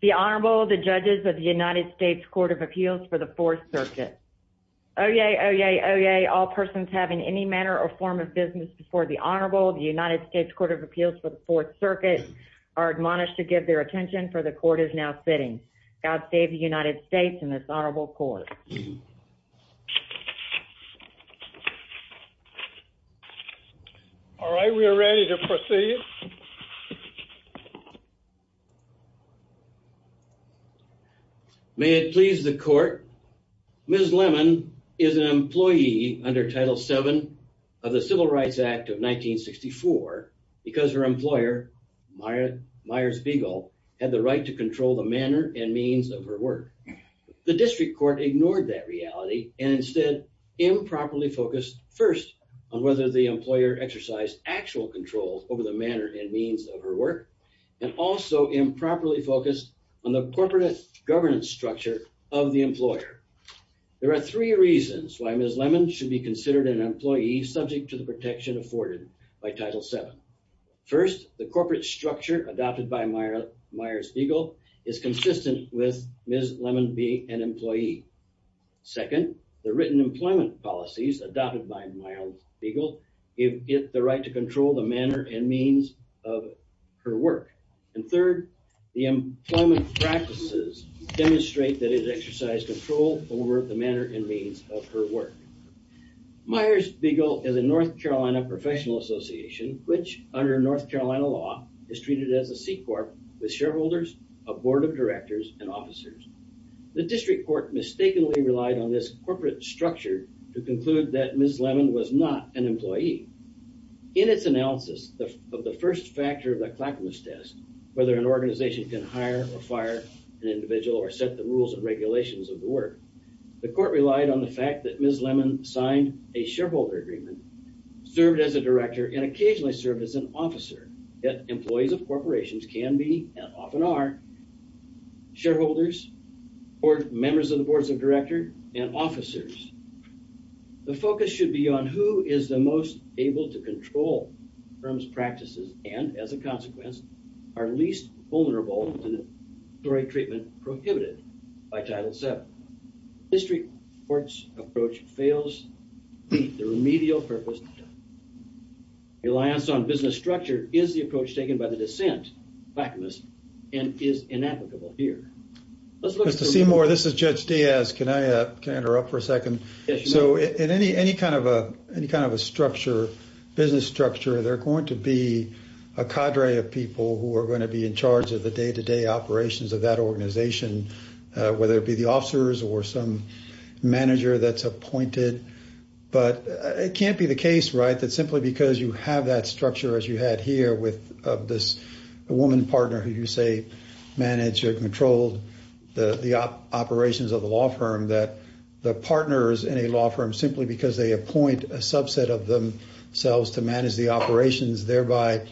The Honorable, the Judges of the United States Court of Appeals for the Fourth Circuit. Oyez, oyez, oyez, all persons having any manner or form of business before the Honorable of the United States Court of Appeals for the Fourth Circuit are admonished to give their attention for the Court is now sitting. God save the United States and this Honorable Court. All right, we are ready to proceed. May it please the Court, Ms. Lemon is an employee under Title VII of the Civil Rights Act of 1964 because her employer, Myers Bigel, had the right to control the manner and means of her work. The District Court ignored that reality and instead improperly focused first on whether the employer exercised actual control over the manner and means of her work and also improperly focused on the corporate governance structure of the employer. There are three reasons why Ms. Lemon should be considered an employee subject to the protection afforded by Title VII. First, the corporate structure adopted by Myers Bigel is consistent with Ms. Lemon being an employee. Second, the written employment policies adopted by Myers Bigel give it the right to control the manner and means of her work. And third, the employment practices demonstrate that it exercised control over the manner and means of her work. Myers Bigel is a North Carolina professional association, which under North Carolina law is treated as a C-Corp with shareholders, a board of directors, and officers. The District Court mistakenly relied on this corporate structure to conclude that Ms. Lemon was not an employee. In its analysis of the first factor of the Clackamas test, whether an organization can hire or fire an individual or set the rules and regulations of the work, the Court relied on the fact that Ms. Lemon signed a shareholder agreement, served as a director, and occasionally served as an officer, yet employees of corporations can be, and often are, shareholders or members of the boards of directors and officers. The focus should be on who is the most able to control firms' practices and, as a consequence, are least vulnerable to the historic treatment prohibited by Title VII. The District Court's approach fails to meet the remedial purpose of the test. The reliance on business structure is the approach taken by the dissent, Clackamas, and is inapplicable here. Let's look at the remedial purpose. Mr. Seymour, this is Judge Diaz. Can I interrupt for a second? Yes, you may. So in any kind of a structure, business structure, there are going to be a cadre of people who are going to be in charge of the day-to-day operations of that organization, whether it be the officers or some manager that's appointed. But it can't be the case, right, that simply because you have that structure as you had here with this woman partner who you say managed or controlled the operations of the law firm that the partners in a law firm, simply because they appoint a subset of themselves to manage the operations, thereby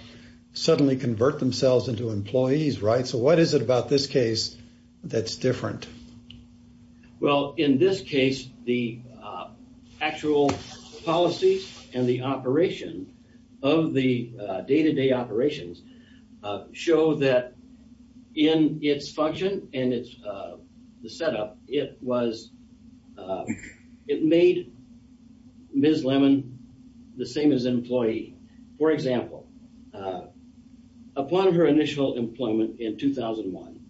suddenly convert themselves into employees, right? So what is it about this case that's different? Well, in this case, the actual policies and the operation of the day-to-day operations show that in its function and its setup, it made Ms. Lemon the same as an employee. For example, upon her initial employment in 2001,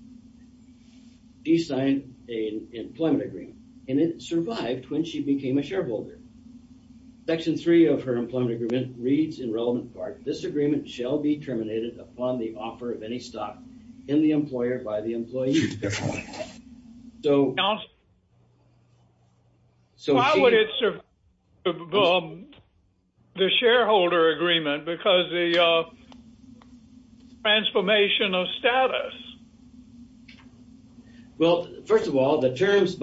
she signed an employment agreement, and it survived when she became a shareholder. Section three of her employment agreement reads in relevant part, this agreement shall be terminated upon the offer of any stock in the employer by the employee. So why would it survive the shareholder agreement because of the transformation of status? Well, first of all, by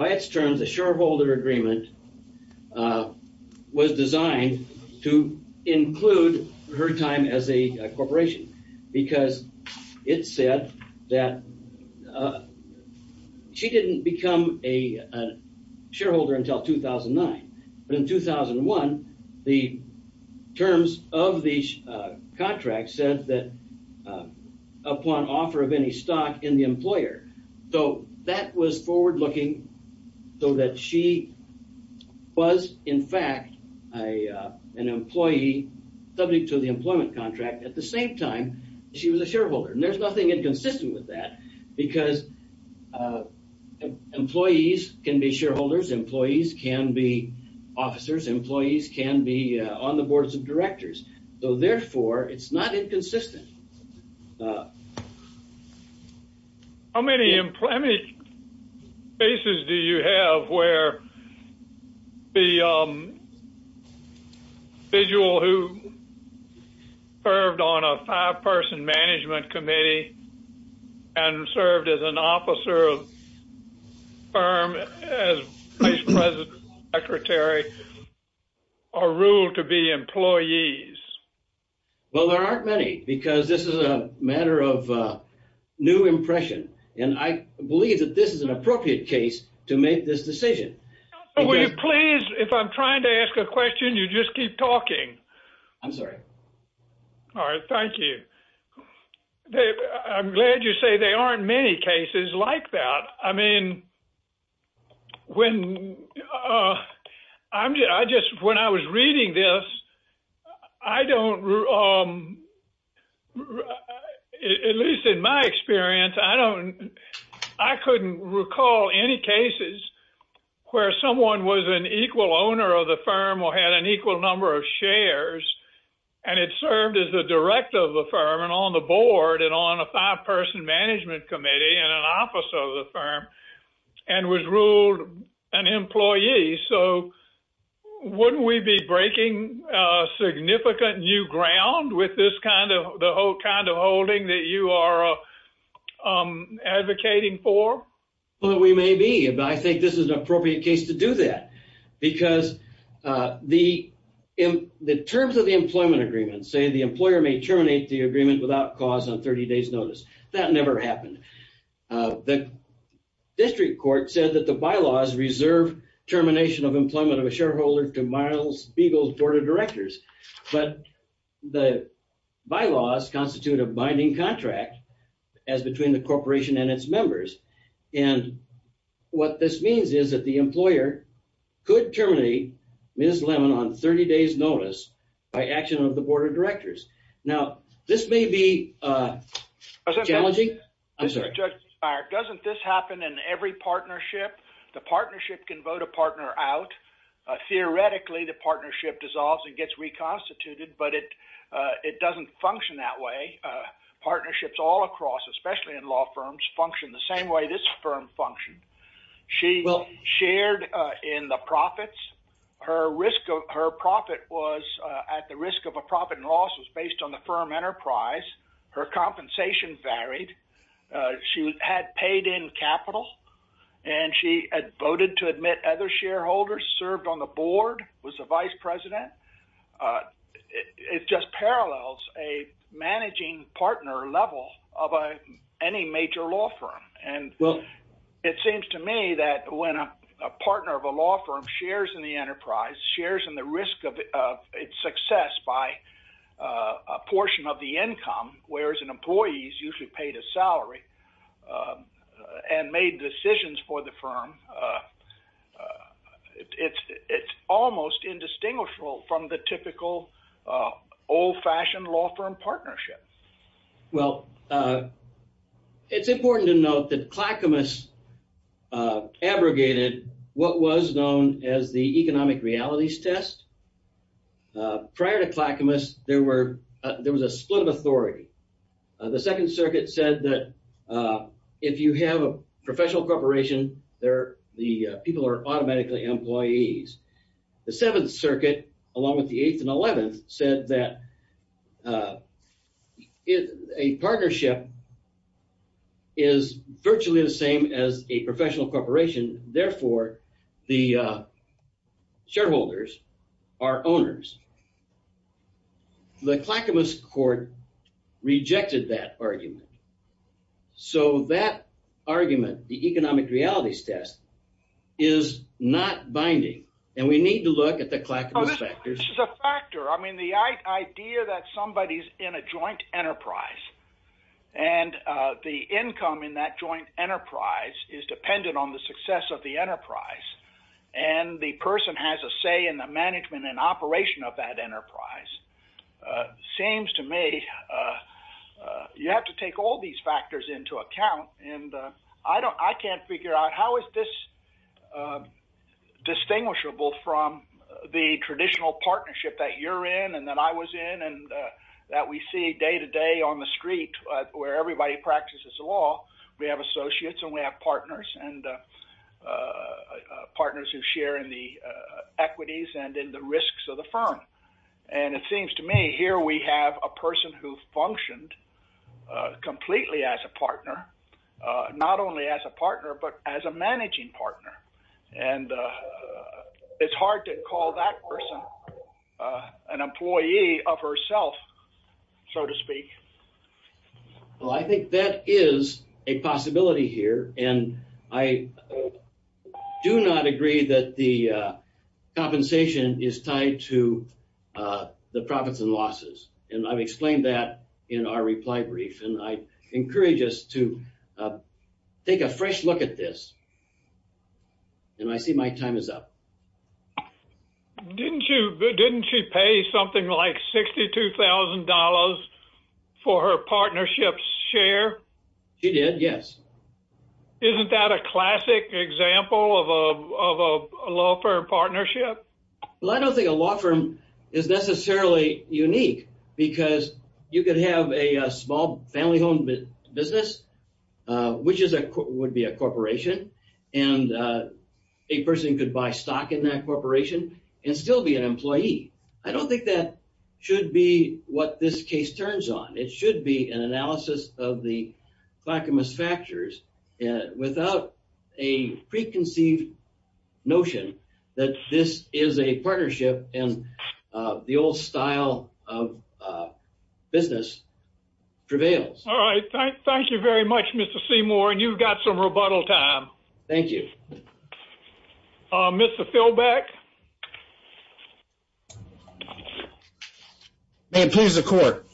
its terms, the shareholder agreement was designed to include her time as a corporation because it said that she didn't become a shareholder until 2009. But in 2001, the terms of the contract said that upon offer of any stock in the employer. So that was forward-looking so that she was, in fact, an employee subject to the employment contract at the same time she was a shareholder. And there's nothing inconsistent with that because employees can be shareholders. Employees can be officers. Employees can be on the boards of directors. So therefore, it's not inconsistent. No. How many employment cases do you have where the individual who served on a five-person management committee and served as an officer of a firm as vice president, secretary, are ruled to be employees? Well, there aren't many because this is a matter of new impression. And I believe that this is an appropriate case to make this decision. Will you please, if I'm trying to ask a question, you just keep talking. I'm sorry. All right, thank you. I'm glad you say there aren't many cases like that. I mean, when I was reading this, I don't, at least in my experience, I couldn't recall any cases where someone was an equal owner of the firm or had an equal number of shares and had served as the director of the firm and on the board and on a five-person management committee and an officer of the firm and was ruled an employee. So wouldn't we be breaking significant new ground with this kind of the whole kind of holding that you are advocating for? Well, we may be. But I think this is an appropriate case to do that because the terms of the employment agreement say the employer may terminate the agreement without cause on 30 days notice. That never happened. The district court said that the bylaws reserve termination of employment of a shareholder to Myles Beagle's board of directors. But the bylaws constitute a binding contract as between the corporation and its members. And what this means is that the employer could terminate Ms. Lemon on 30 days notice by action of the board of directors. Now, this may be challenging. I'm sorry. Doesn't this happen in every partnership? The partnership can vote a partner out. Theoretically, the partnership dissolves and gets reconstituted. But it doesn't function that way. Partnerships all across, especially in law firms, function the same way this firm functioned. She shared in the profits. Her profit was at the risk of a profit and loss was based on the firm enterprise. Her compensation varied. She had paid in capital. And she had voted to admit other shareholders, served on the board, was the vice president. It just parallels a managing partner level of any major law firm. And it seems to me that when a partner of a law firm shares in the enterprise, shares in the risk of its success by a portion of the income, whereas an employee is usually paid a salary and made decisions for the firm, it's almost indistinguishable from the typical old-fashioned law firm partnership. Well, it's important to note that Clackamas abrogated what was known as the economic realities test. Prior to Clackamas, there was a split of authority. The Second Circuit said that if you have a professional corporation, the people are automatically employees. The Seventh Circuit, along with the Eighth and Eleventh, said that a partnership is virtually the same as a professional corporation. Therefore, the shareholders are owners. The Clackamas court rejected that argument. So that argument, the economic realities test, is not binding and we need to look at the Clackamas factor. Which is a factor. I mean, the idea that somebody is in a joint enterprise and the income in that joint enterprise is dependent on the success of the enterprise and the person has a say in the business. You take all these factors into account and I can't figure out how is this distinguishable from the traditional partnership that you're in and that I was in and that we see day to day on the street where everybody practices the law. We have associates and we have partners and partners who share in the equities and in the risks of the firm. And it seems to me here we have a person who functioned completely as a partner, not only as a partner, but as a managing partner. And it's hard to call that person an employee of herself, so to speak. Well, I think that is a possibility here. And I do not agree that the compensation is tied to the profits and losses. And I've explained that in our reply brief. And I encourage us to take a fresh look at this. And I see my time is up. Didn't you didn't she pay something like $62,000 for her partnership's share? She did, yes. Isn't that a classic example of a law firm partnership? Well, I don't think a law firm is necessarily unique because you could have a small family home business, which would be a corporation, and a person could buy stock in that corporation and still be an employee. I don't think that should be what this case turns on. It should be an analysis of the clackamous factors without a preconceived notion that this is a partnership and the old style of business prevails. All right. Thank you very much, Mr. Seymour. And you've got some rebuttal time. Thank you. Mr. Philbeck. May it please the court.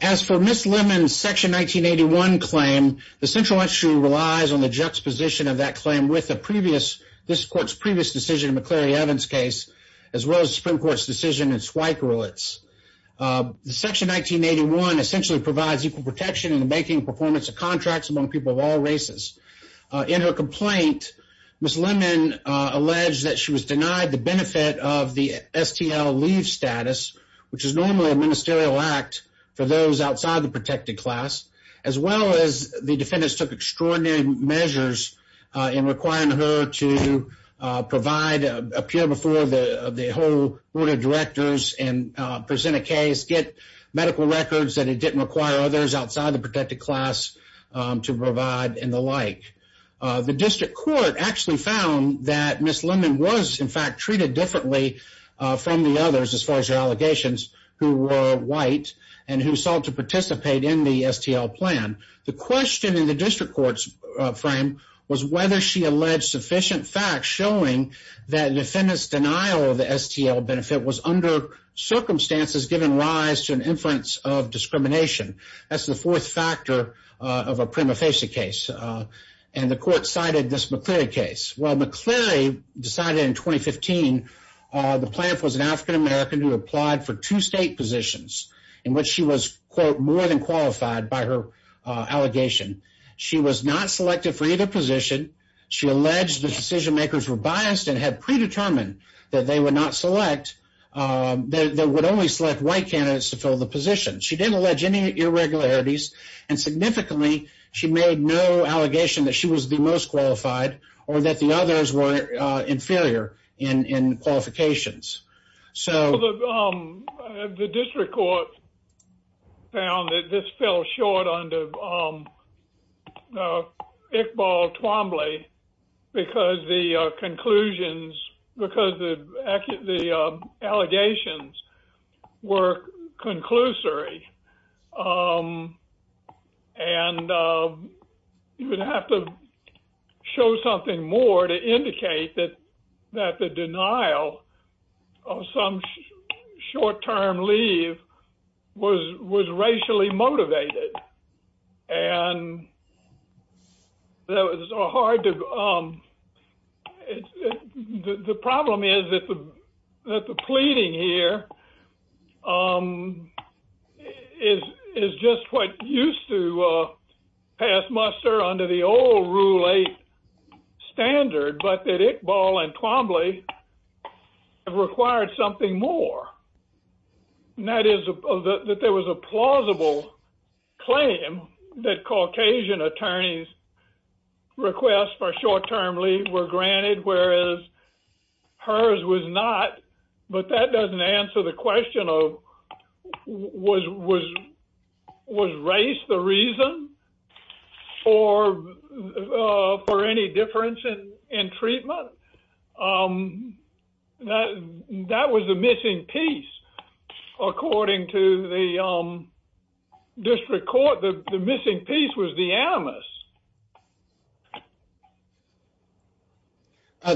As for Ms. Lemon's Section 1981 claim, the Central Institute relies on the juxtaposition of that claim with the previous, this court's previous decision in McCleary Evans' case, as well as the Supreme Court's decision in Zweig-Rulitz. Section 1981 essentially provides equal protection in the banking performance of contracts among people of all races. In her complaint, Ms. Lemon alleged that she was denied the benefit of the STL leave status, which is normally a ministerial act for those outside the protected class, as well as the defendants took extraordinary measures in requiring her to provide, appear before the whole board of directors and present a case, get medical records that it didn't require others outside the protected class to provide and the like. The district court actually found that Ms. Lemon was in fact treated differently from the others as far as her allegations. Who were white and who sought to participate in the STL plan. The question in the district court's frame was whether she alleged sufficient facts showing that defendant's denial of the STL benefit was under circumstances given rise to an inference of discrimination. That's the fourth factor of a prima facie case. And the court cited this McCleary case. Well, McCleary decided in 2015 the plan was an African-American who applied for two state positions in which she was, quote, more than qualified by her allegation. She was not selected for either position. She alleged the decision makers were biased and had predetermined that they would not select, that would only select white candidates to fill the position. She didn't allege any irregularities and significantly, she made no allegation that she was the most qualified or that the others were inferior in qualifications. So the district court found that this fell short under Iqbal Twombly because the conclusions, because the allegations were conclusory and you would have to show something more to indicate that the denial of some short-term leave was racially motivated. And the problem is that the pleading here is just what used to pass muster under the old Rule 8 standard. But that Iqbal and Twombly required something more, and that is that there was a plausible claim that Caucasian attorneys request for short-term leave were granted, whereas hers was not. But that doesn't answer the question of was race the reason for any difference in treatment? That was the missing piece, according to the district court, the missing piece was the animus.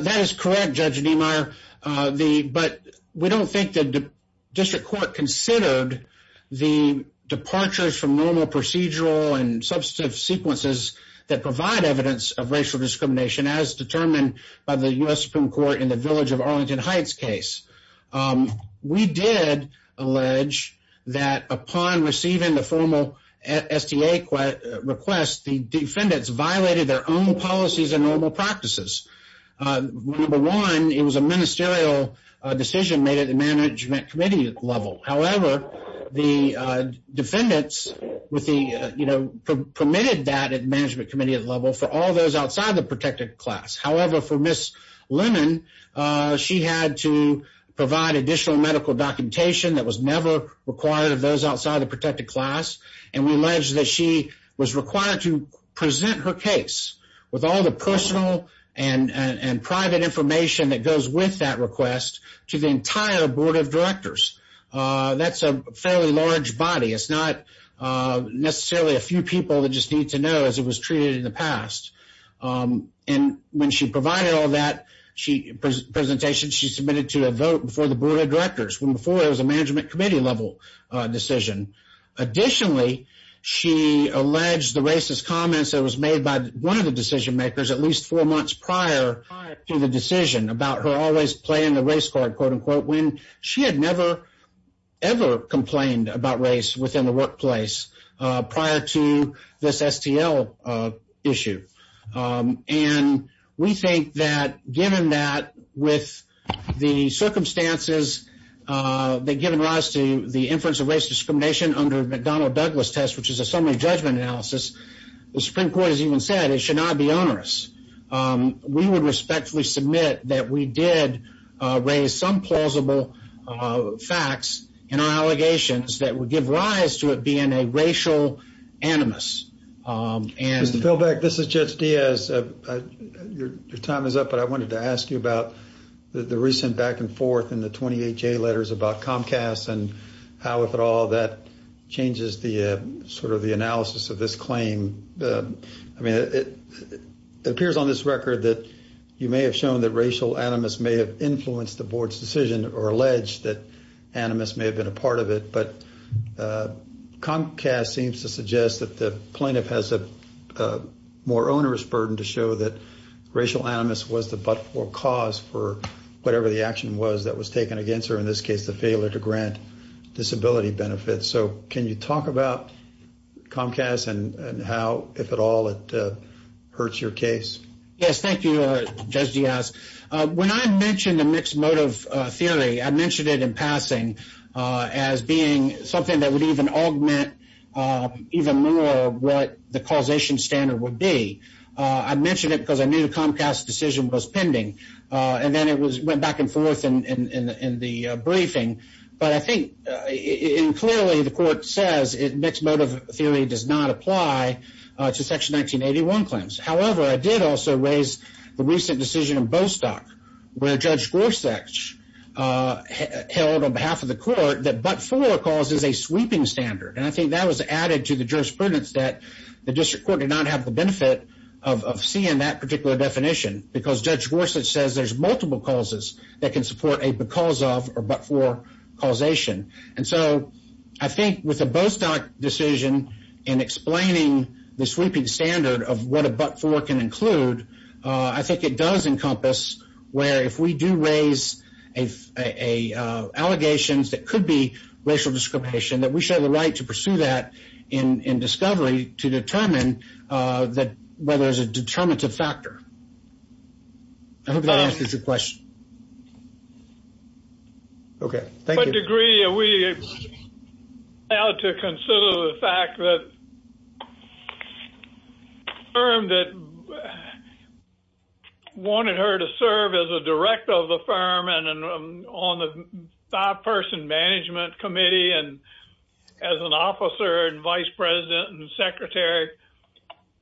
That is correct, Judge Niemeyer, but we don't think the district court considered the departures from normal procedural and substantive sequences that provide evidence of racial discrimination as determined by the U.S. Supreme Court in the Village of Arlington Heights case. We did allege that upon receiving the formal STA request, the defendants violated their own policies and normal practices. Number one, it was a ministerial decision made at the management committee level. However, the defendants permitted that at the management committee level for all those outside the protected class. However, for Ms. Lemon, she had to provide additional medical documentation that was never required of those outside the protected class, and we allege that she was required to present her case with all the personal and private information that goes with that request to the entire board of directors. That's a fairly large body. It's not necessarily a few people that just need to know, as it was treated in the past. And when she provided all that presentation, she submitted to a vote before the board of directors, when before it was a management committee level decision. Additionally, she alleged the racist comments that was made by one of the decision makers at least four months prior to the decision about her always playing the race card, quote, unquote, when she had never ever complained about race within the workplace prior to this STL issue. And we think that given that with the circumstances that given rise to the inference of race discrimination under McDonnell-Douglas test, which is a summary judgment analysis, the Supreme Court has even said it should not be onerous. We would respectfully submit that we did raise some plausible facts in our allegations that would give rise to it being a racial animus. Mr. Philbeck, this is Judge Diaz. Your time is up, but I wanted to ask you about the recent back and forth in the 28-J letters about Comcast and how, if at all, that changes the sort of the analysis of this claim. I mean, it appears on this record that you may have shown that racial animus may have influenced the board's decision or alleged that animus may have been a part of it. But Comcast seems to suggest that the plaintiff has a more onerous burden to show that racial animus was the but-for cause for whatever the action was that was taken against her, in this case, the failure to grant disability benefits. So can you talk about Comcast and how, if at all, it hurts your case? Yes, thank you, Judge Diaz. When I mentioned the mixed motive theory, I mentioned it in passing as being something that would even augment even more what the causation standard would be. I mentioned it because I knew the Comcast decision was pending, and then it went back and forth in the briefing. But I think, and clearly the court says, mixed motive theory does not apply to Section 1981 claims. However, I did also raise the recent decision in Bostock where Judge Gorsuch held on behalf of the court that but-for cause is a sweeping standard. And I think that was added to the jurisprudence that the district court did not have the benefit of seeing that particular definition because Judge Gorsuch says there's multiple causes that can support a because-of or but-for causation. And so I think with the Bostock decision in explaining the sweeping standard of what a but-for can include, I think it does encompass where if we do raise allegations that could be racial discrimination, that we show the right to pursue that in discovery to determine whether it's a determinative factor. I hope that answers your question. Okay, thank you. To what degree are we allowed to consider the fact that the firm that wanted her to serve as a director of the firm and on the five-person management committee and as an officer and vice president and secretary,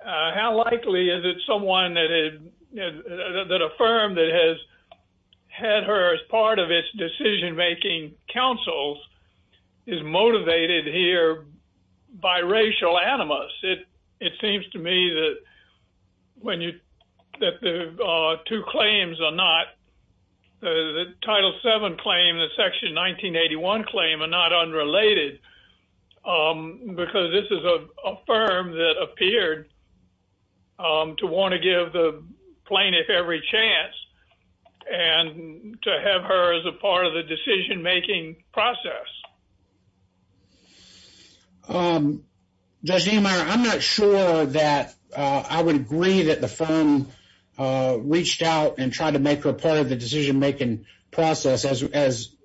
how likely is it someone that had, that a counsel is motivated here by racial animus? It seems to me that when you-that the two claims are not-the Title VII claim and the Section 1981 claim are not unrelated because this is a firm that appeared to want to give the plaintiff every chance and to have her as a part of the decision-making process. Judge Niemeyer, I'm not sure that I would agree that the firm reached out and tried to make her part of the decision-making process as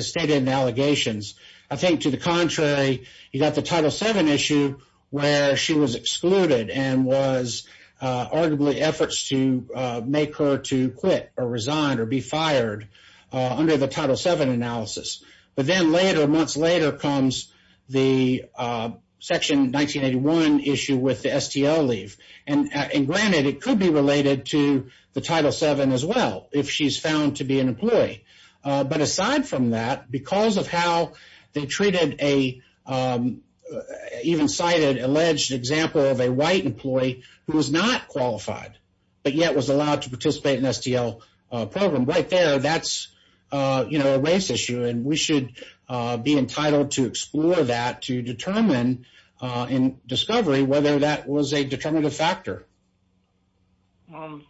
stated in the allegations. I think to the contrary, you got the Title VII issue where she was excluded and was arguably efforts to make her to quit or resign or be fired under the Title VII analysis. But then later, months later, comes the Section 1981 issue with the STL leave. And granted, it could be related to the Title VII as well if she's found to be an employee. But aside from that, because of how they treated a-even cited alleged example of a white employee who was not qualified but yet was allowed to participate in STL program. Right there, that's, you know, a race issue and we should be entitled to explore that to determine in discovery whether that was a determinative factor.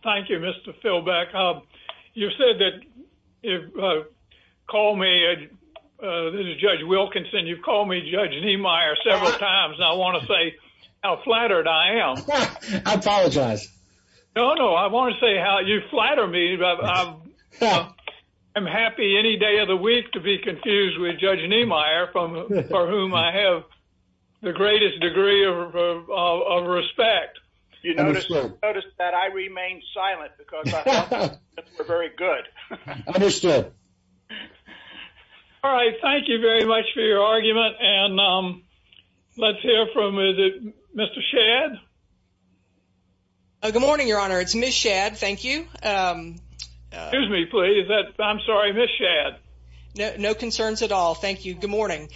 Thank you, Mr. Philbeck. You've said that you've called me-this is Judge Wilkinson. You've called me Judge Niemeyer several times and I want to say how flattered I am. I apologize. No, no. I want to say how you flatter me. I'm happy any day of the week to be confused with Judge Niemeyer for whom I have the greatest degree of respect. You notice that I remain silent because I'm not very good. Understood. All right. Thank you very much for your argument. And let's hear from-is it Mr. Shadd? Good morning, Your Honor. It's Ms. Shadd. Thank you. Excuse me, please. I'm sorry. Ms. Shadd. No concerns at all. Thank you. Good morning.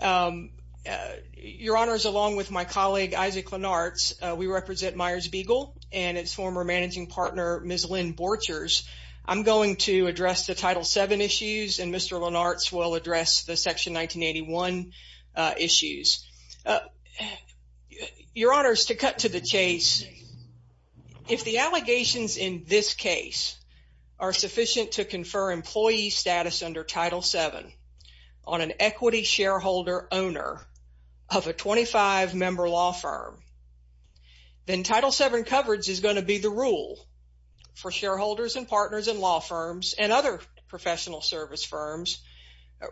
Your Honor, along with my colleague, Isaac Lenartz, we represent Myers Beagle and its former managing partner, Ms. Lynn Borchers. I'm going to address the Title VII issues and Mr. Lenartz will address the Section 1981 issues. Your Honor, to cut to the chase, if the allegations in this case are sufficient to confer employee status under Title VII on an equity shareholder owner of a 25-member law firm, then Title VII coverage is going to be the rule for shareholders and partners in law firms and other professional service firms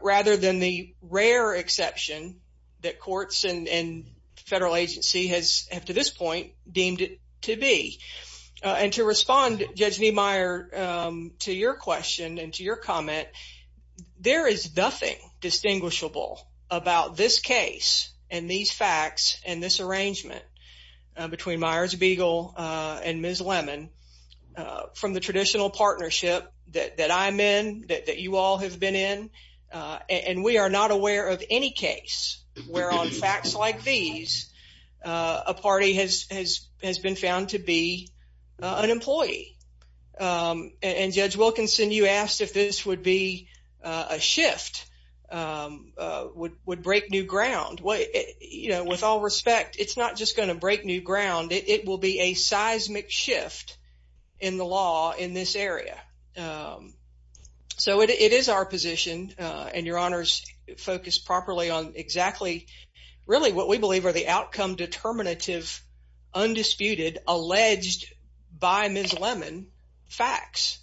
rather than the rare exception that courts and federal agency has, up to this point, deemed it to be. And to respond, Judge Niemeyer, to your question and to your comment, there is nothing distinguishable about this case and these facts and this arrangement between Myers Beagle and Ms. Lemon from the traditional partnership that I'm in, that you all have been in, and we are not aware of any case where, on facts like these, a party has been found to be an employee. And Judge Wilkinson, you asked if this would be a shift, would break new ground. With all respect, it's not just going to break new ground. It will be a seismic shift in the law in this area. So, it is our position, and your honors focus properly on exactly, really, what we believe are the outcome determinative, undisputed, alleged, by Ms. Lemon, facts.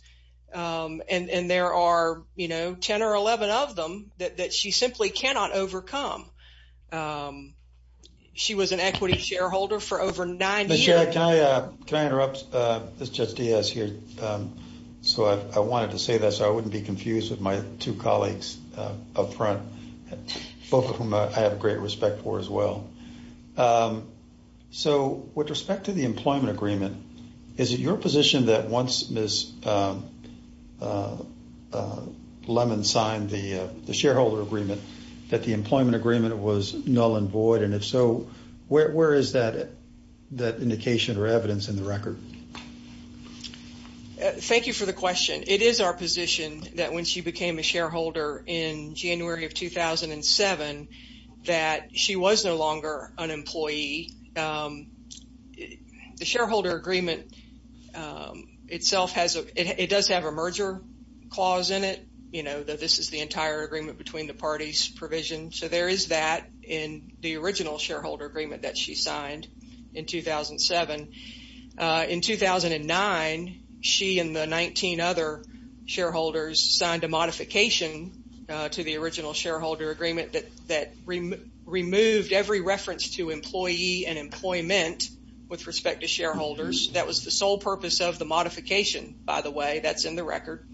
And there are, you know, 10 or 11 of them that she simply cannot overcome. She was an equity shareholder for over nine years. Can I interrupt? This is Judge Diaz here. So, I wanted to say that so I wouldn't be confused with my two colleagues up front, both of whom I have great respect for as well. So, with respect to the employment agreement, is it your position that once Ms. Lemon signed the shareholder agreement, that the employment agreement was null and void? And if so, where is that indication or evidence in the record? Thank you for the question. It is our position that when she became a shareholder in January of 2007, that she was no longer an employee. The shareholder agreement itself, it does have a merger clause in it. You know, that this is the entire agreement between the parties provision. So, there is that in the original shareholder agreement that she signed in 2007. In 2009, she and the 19 other shareholders signed a modification to the original shareholder agreement that removed every reference to employee and employment with respect to shareholders. That was the sole purpose of the modification, by the way. That's in the record.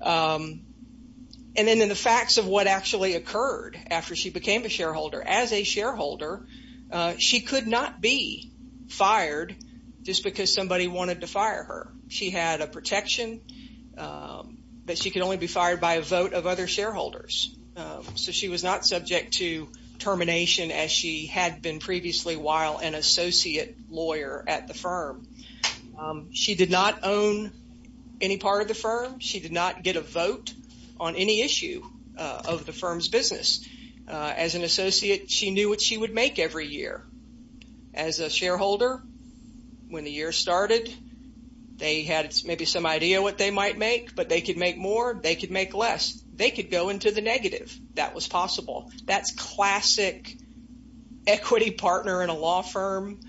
And then, in the facts of what actually occurred after she became a shareholder, as a shareholder, she could not be fired just because somebody wanted to fire her. She had a protection that she could only be fired by a vote of other shareholders. So, she was not subject to termination as she had been previously while an associate lawyer at the firm. She did not own any part of the firm. She did not get a vote on any issue of the firm's business. As an associate, she knew what she would make every year. As a shareholder, when the year started, they had maybe some idea what they might make, but they could make more. They could make less. They could go into the negative. That was possible. That's classic equity partner in a law firm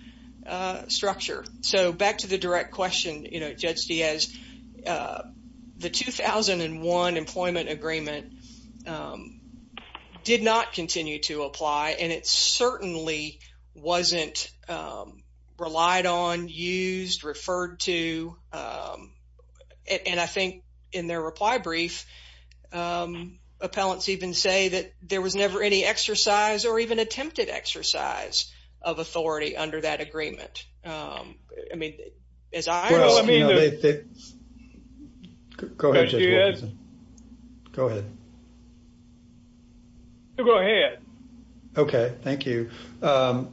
structure. So, back to the direct question, Judge Diaz, the 2001 employment agreement did not continue to apply, and it certainly wasn't relied on, used, referred to. And I think in their reply brief, appellants even say that there was never any exercise or even attempted exercise of authority under that agreement. I mean, as I... Well, I mean... Go ahead, Judge Wilkinson. Go ahead. Go ahead. Okay. Thank you. Your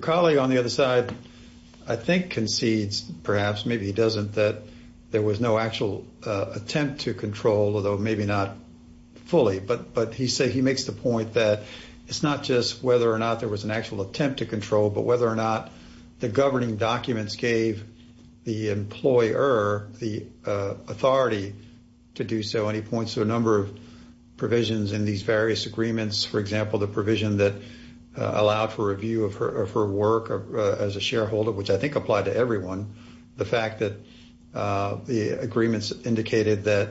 colleague on the other side, I think concedes, perhaps, maybe he doesn't, that there was no actual attempt to control, although maybe not fully. But he makes the point that it's not just whether or not there was an actual attempt to control, but whether or not the governing documents gave the employer the authority to do so. And he points to a number of provisions in these various agreements. For example, the provision that allowed for review of her work as a shareholder, which I think applied to everyone. The fact that the agreements indicated that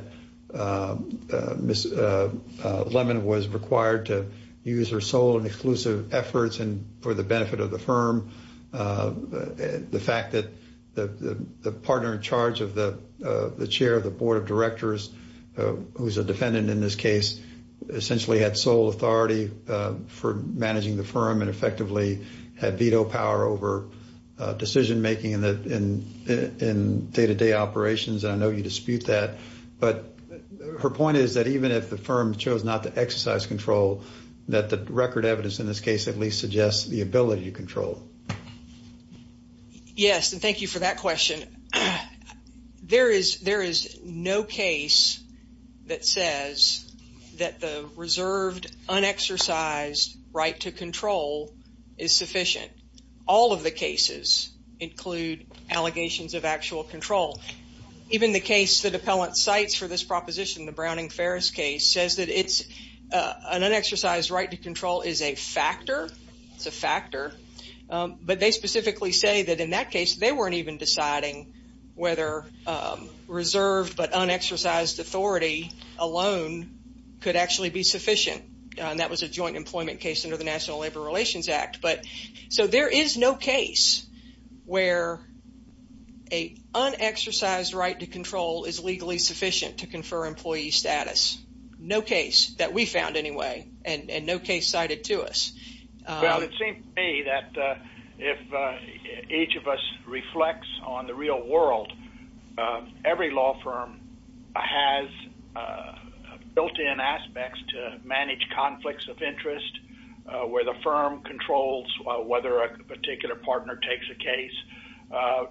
Ms. Lemon was required to use her sole and the firm, the fact that the partner in charge of the chair of the board of directors, who's a defendant in this case, essentially had sole authority for managing the firm and effectively had veto power over decision-making in day-to-day operations. And I know you dispute that. But her point is that even if the firm chose not to exercise control, that the record evidence in this case at least suggests the ability to control. Yes, and thank you for that question. There is no case that says that the reserved, unexercised right to control is sufficient. All of the cases include allegations of actual control. Even the case that appellant cites for this proposition, the Browning-Ferris case, says that an unexercised right to control is a factor. It's a factor. But they specifically say that in that case, they weren't even deciding whether reserved but unexercised authority alone could actually be sufficient. That was a joint employment case under the National Labor Relations Act. So there is no case where an unexercised right to control is legally sufficient to confer employee status. No case that we found anyway, and no case cited to us. Well, it seems to me that if each of us reflects on the real world, every law firm has built-in aspects to manage conflicts of interest, where the firm controls whether a particular partner takes a case,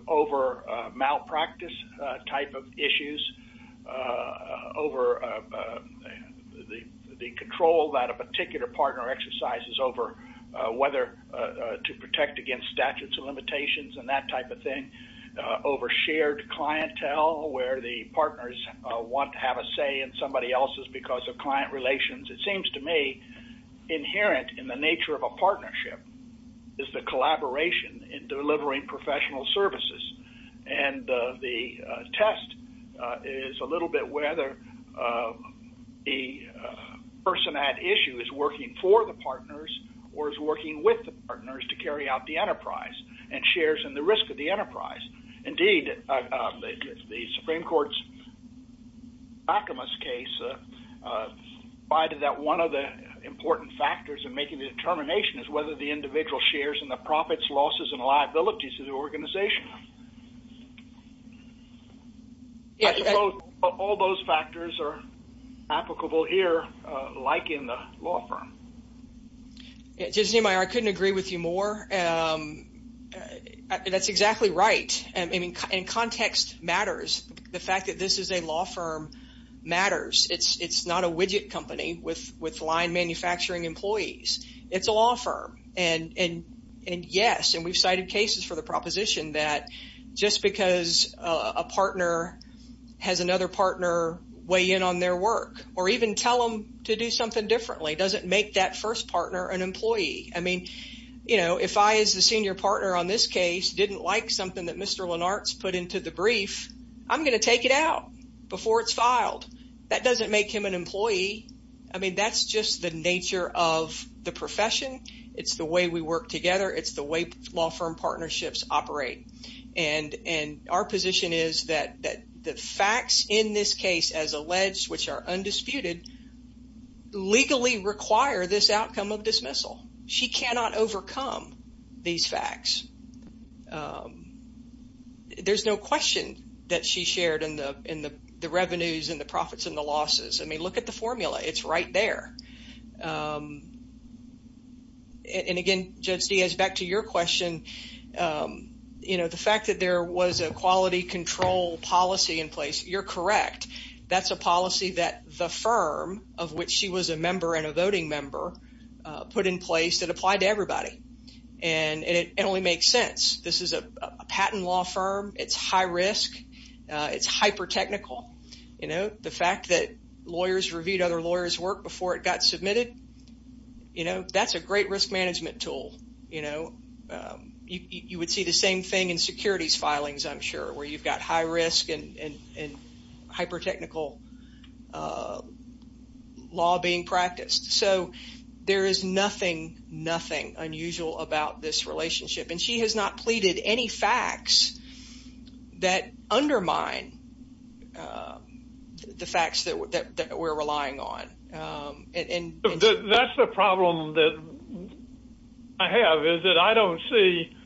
over malpractice type of issues, over the control that a particular partner exercises over whether to protect against statutes of limitations and that type of thing, over shared clientele where the partners want to have a say in somebody else's because of client relations. It seems to me inherent in the nature of a partnership is the collaboration in delivering professional services. And the test is a little bit whether a person at issue is working for the partners or is working with the partners to carry out the enterprise and shares in the risk of the enterprise. Indeed, the Supreme Court's Backamas case provided that one of the important factors in making the determination is whether the individual shares in the profits, losses, and liabilities of the organization. All those factors are applicable here, like in the law firm. Yeah. Judge Niemeyer, I couldn't agree with you more. That's exactly right. And context matters. The fact that this is a law firm matters. It's not a widget company with line manufacturing employees. It's a law firm. And yes, and we've cited cases for the proposition that just because a partner has another partner weigh in on their work or even tell them to do something differently doesn't make that first partner an employee. I mean, you know, if I, as the senior partner on this case, didn't like something that Mr. Lenart's put into the brief, I'm going to take it out before it's filed. That doesn't make him an employee. I mean, that's just the nature of the profession. It's the way we work together. It's the way law firm partnerships operate. And our position is that the facts in this case as alleged, which are undisputed, legally require this outcome of dismissal. She cannot overcome these facts. There's no question that she shared in the revenues and the profits and the losses. I mean, look at the formula. It's right there. And again, Judge Diaz, back to your question, you know, the fact that there was a quality control policy in place. You're correct. That's a policy that the firm of which she was a member and a voting member put in place that applied to everybody. And it only makes sense. This is a patent law firm. It's high risk. It's hyper technical. You know, the fact that lawyers reviewed other lawyers work before it got submitted. You know, that's a great risk management tool. You know, you would see the same thing in securities filings, I'm sure, where you've got high risk and hyper technical law being practiced. So there is nothing, nothing unusual about this relationship. And she has not pleaded any facts that undermine the facts that we're relying on. That's the problem that I have is that I don't see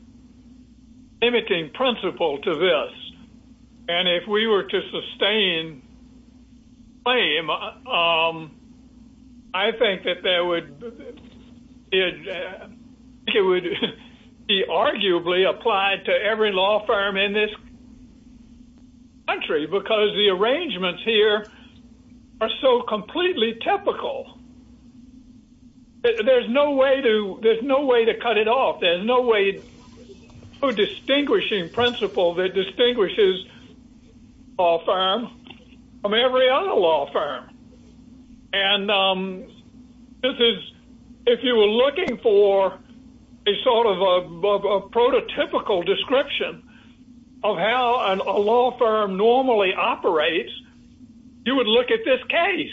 limiting principle to this. And if we were to sustain claim, I think that there would be arguably applied to every law firm in this country because the arrangements here are so completely typical. There's no way to there's no way to cut it off. There's no way to a distinguishing principle that distinguishes all firms from every other law firm. And this is if you were looking for a sort of a prototypical description of how a law firm normally operates, you would look at this case.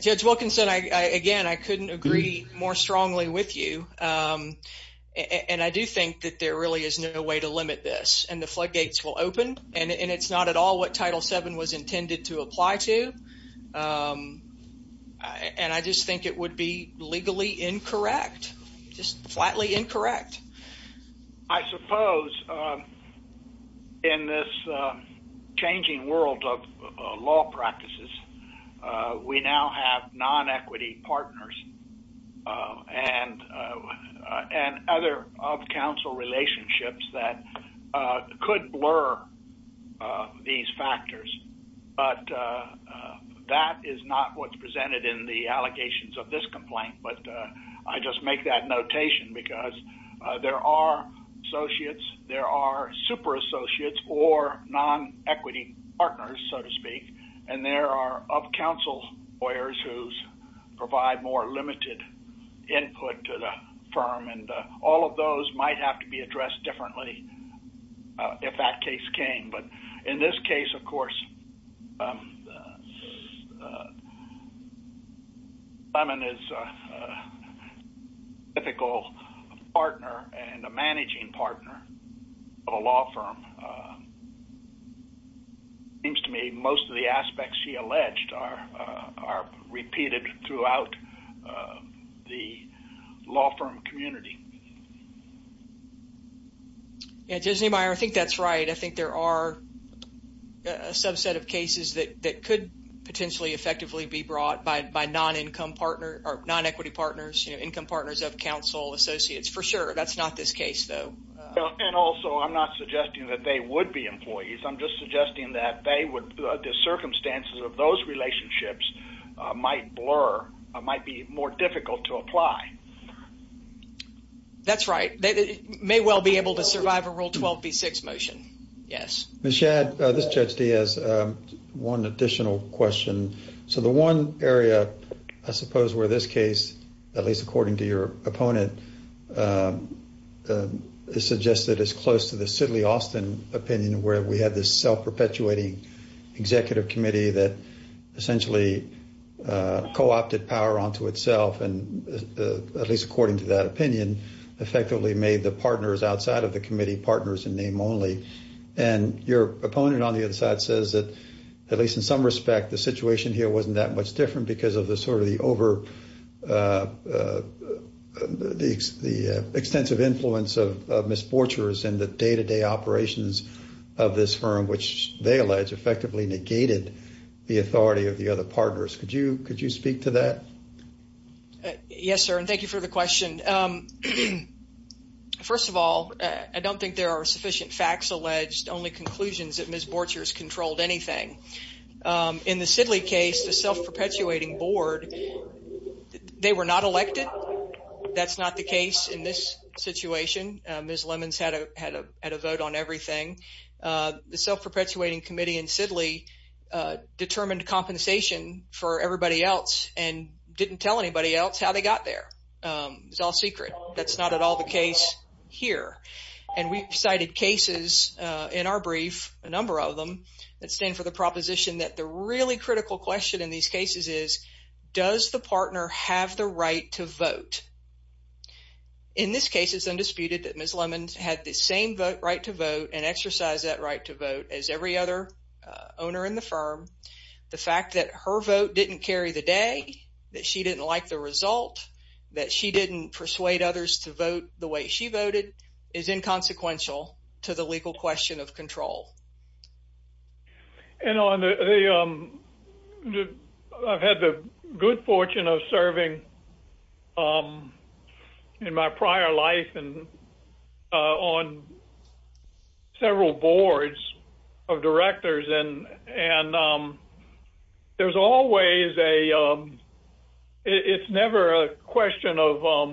Judge Wilkinson, I again, I couldn't agree more strongly with you. And I do think that there really is no way to limit this and the floodgates will open and it's not at all what Title seven was intended to apply to. And I just think it would be legally incorrect, just flatly incorrect. I suppose in this changing world of law practices, we now have non-equity partners and other of counsel relationships that could blur these factors. But that is not what's presented in the allegations of this complaint. But I just make that notation because there are associates, there are super associates or non-equity partners, so to speak. And there are of counsel lawyers who provide more limited input to the firm. And all of those might have to be addressed differently if that case came. But in this case, of course, Simon is a typical partner and a managing partner of a law firm. Seems to me most of the aspects she alleged are repeated throughout the law firm community. Yeah, Judge Niemeyer, I think that's right. I think there are a subset of cases that could potentially effectively be brought by non-equity partners, income partners of counsel associates, for sure. That's not this case, though. And also, I'm not suggesting that they would be employees. I'm just suggesting that the circumstances of those relationships might blur, might be more difficult to apply. That's right. They may well be able to survive a Rule 12b6 motion. Yes. Ms. Shadd, this is Judge Diaz. One additional question. So the one area, I suppose, where this case, at least according to your opponent, is suggested as close to the Sidley Austin opinion, where we had this self-perpetuating executive committee that essentially co-opted power onto itself. And at least according to that opinion, effectively made the partners outside of the committee partners in name only. And your opponent on the other side says that, at least in some respect, the situation here wasn't that much different because of the sort of the extensive influence of misfortuners in the day-to-day operations of this firm, which they allege effectively negated the authority of the other partners. Could you speak to that? Yes, sir. And thank you for the question. First of all, I don't think there are sufficient facts alleged, only conclusions that Ms. Borchers controlled anything. In the Sidley case, the self-perpetuating board, they were not elected. That's not the case in this situation. Ms. Lemons had a vote on everything. The self-perpetuating committee in Sidley determined compensation for everybody else and didn't tell anybody else how they got there. It's all secret. That's not at all the case here. And we've cited cases in our brief, a number of them, that stand for the proposition that the really critical question in these cases is, does the partner have the right to vote? In this case, it's undisputed that Ms. Lemons had the same vote right to vote and exercise that right to vote as every other owner in the firm. The fact that her vote didn't carry the day, that she didn't like the result, that she didn't persuade others to vote the way she voted, is inconsequential to the legal question of control. And I've had the good fortune of serving in my prior life on several boards of directors and there's always a – it's never a question of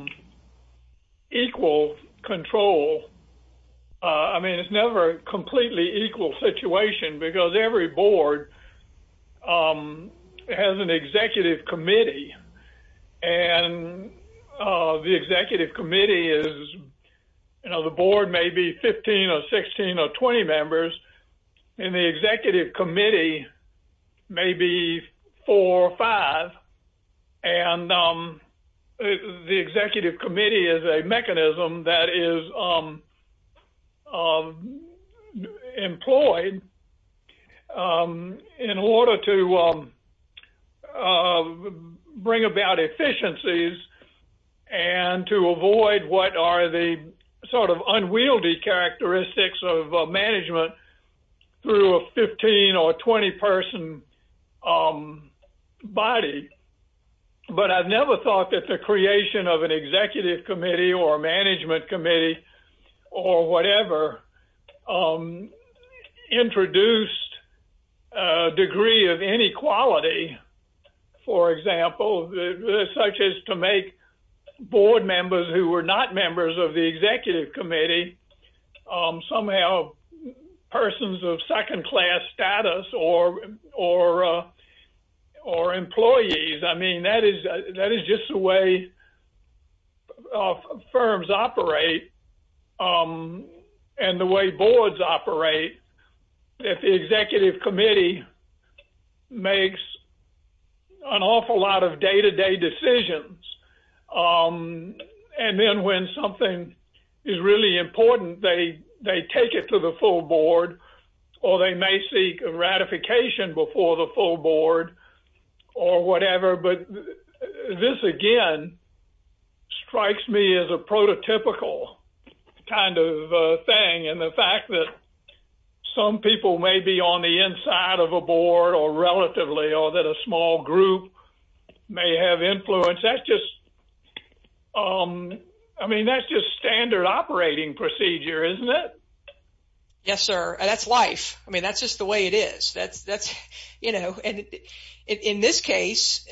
equal control. I mean, it's never a completely equal situation because every board has an executive committee. And the executive committee is – you know, the board may be 15 or 16 or 20 members, and the executive committee may be four or five. And the executive committee is a mechanism that is employed in order to bring about efficiencies and to avoid what are the sort of unwieldy characteristics of management through a 15 or 20-person body. But I've never thought that the creation of an executive committee or management committee or whatever introduced a degree of inequality, for example, such as to make board members who were not members of the executive committee somehow persons of second-class status or employees. I mean, that is just the way firms operate and the way boards operate. If the executive committee makes an awful lot of day-to-day decisions and then when something is really important, they take it to the full board or they may seek a ratification before the full board or whatever. But this, again, strikes me as a prototypical kind of thing. And the fact that some people may be on the inside of a board or relatively or that a small group may have influence, that's just – I mean, that's just standard operating procedure, isn't it? Yes, sir. That's life. I mean, that's just the way it is. That's – you know, and in this case,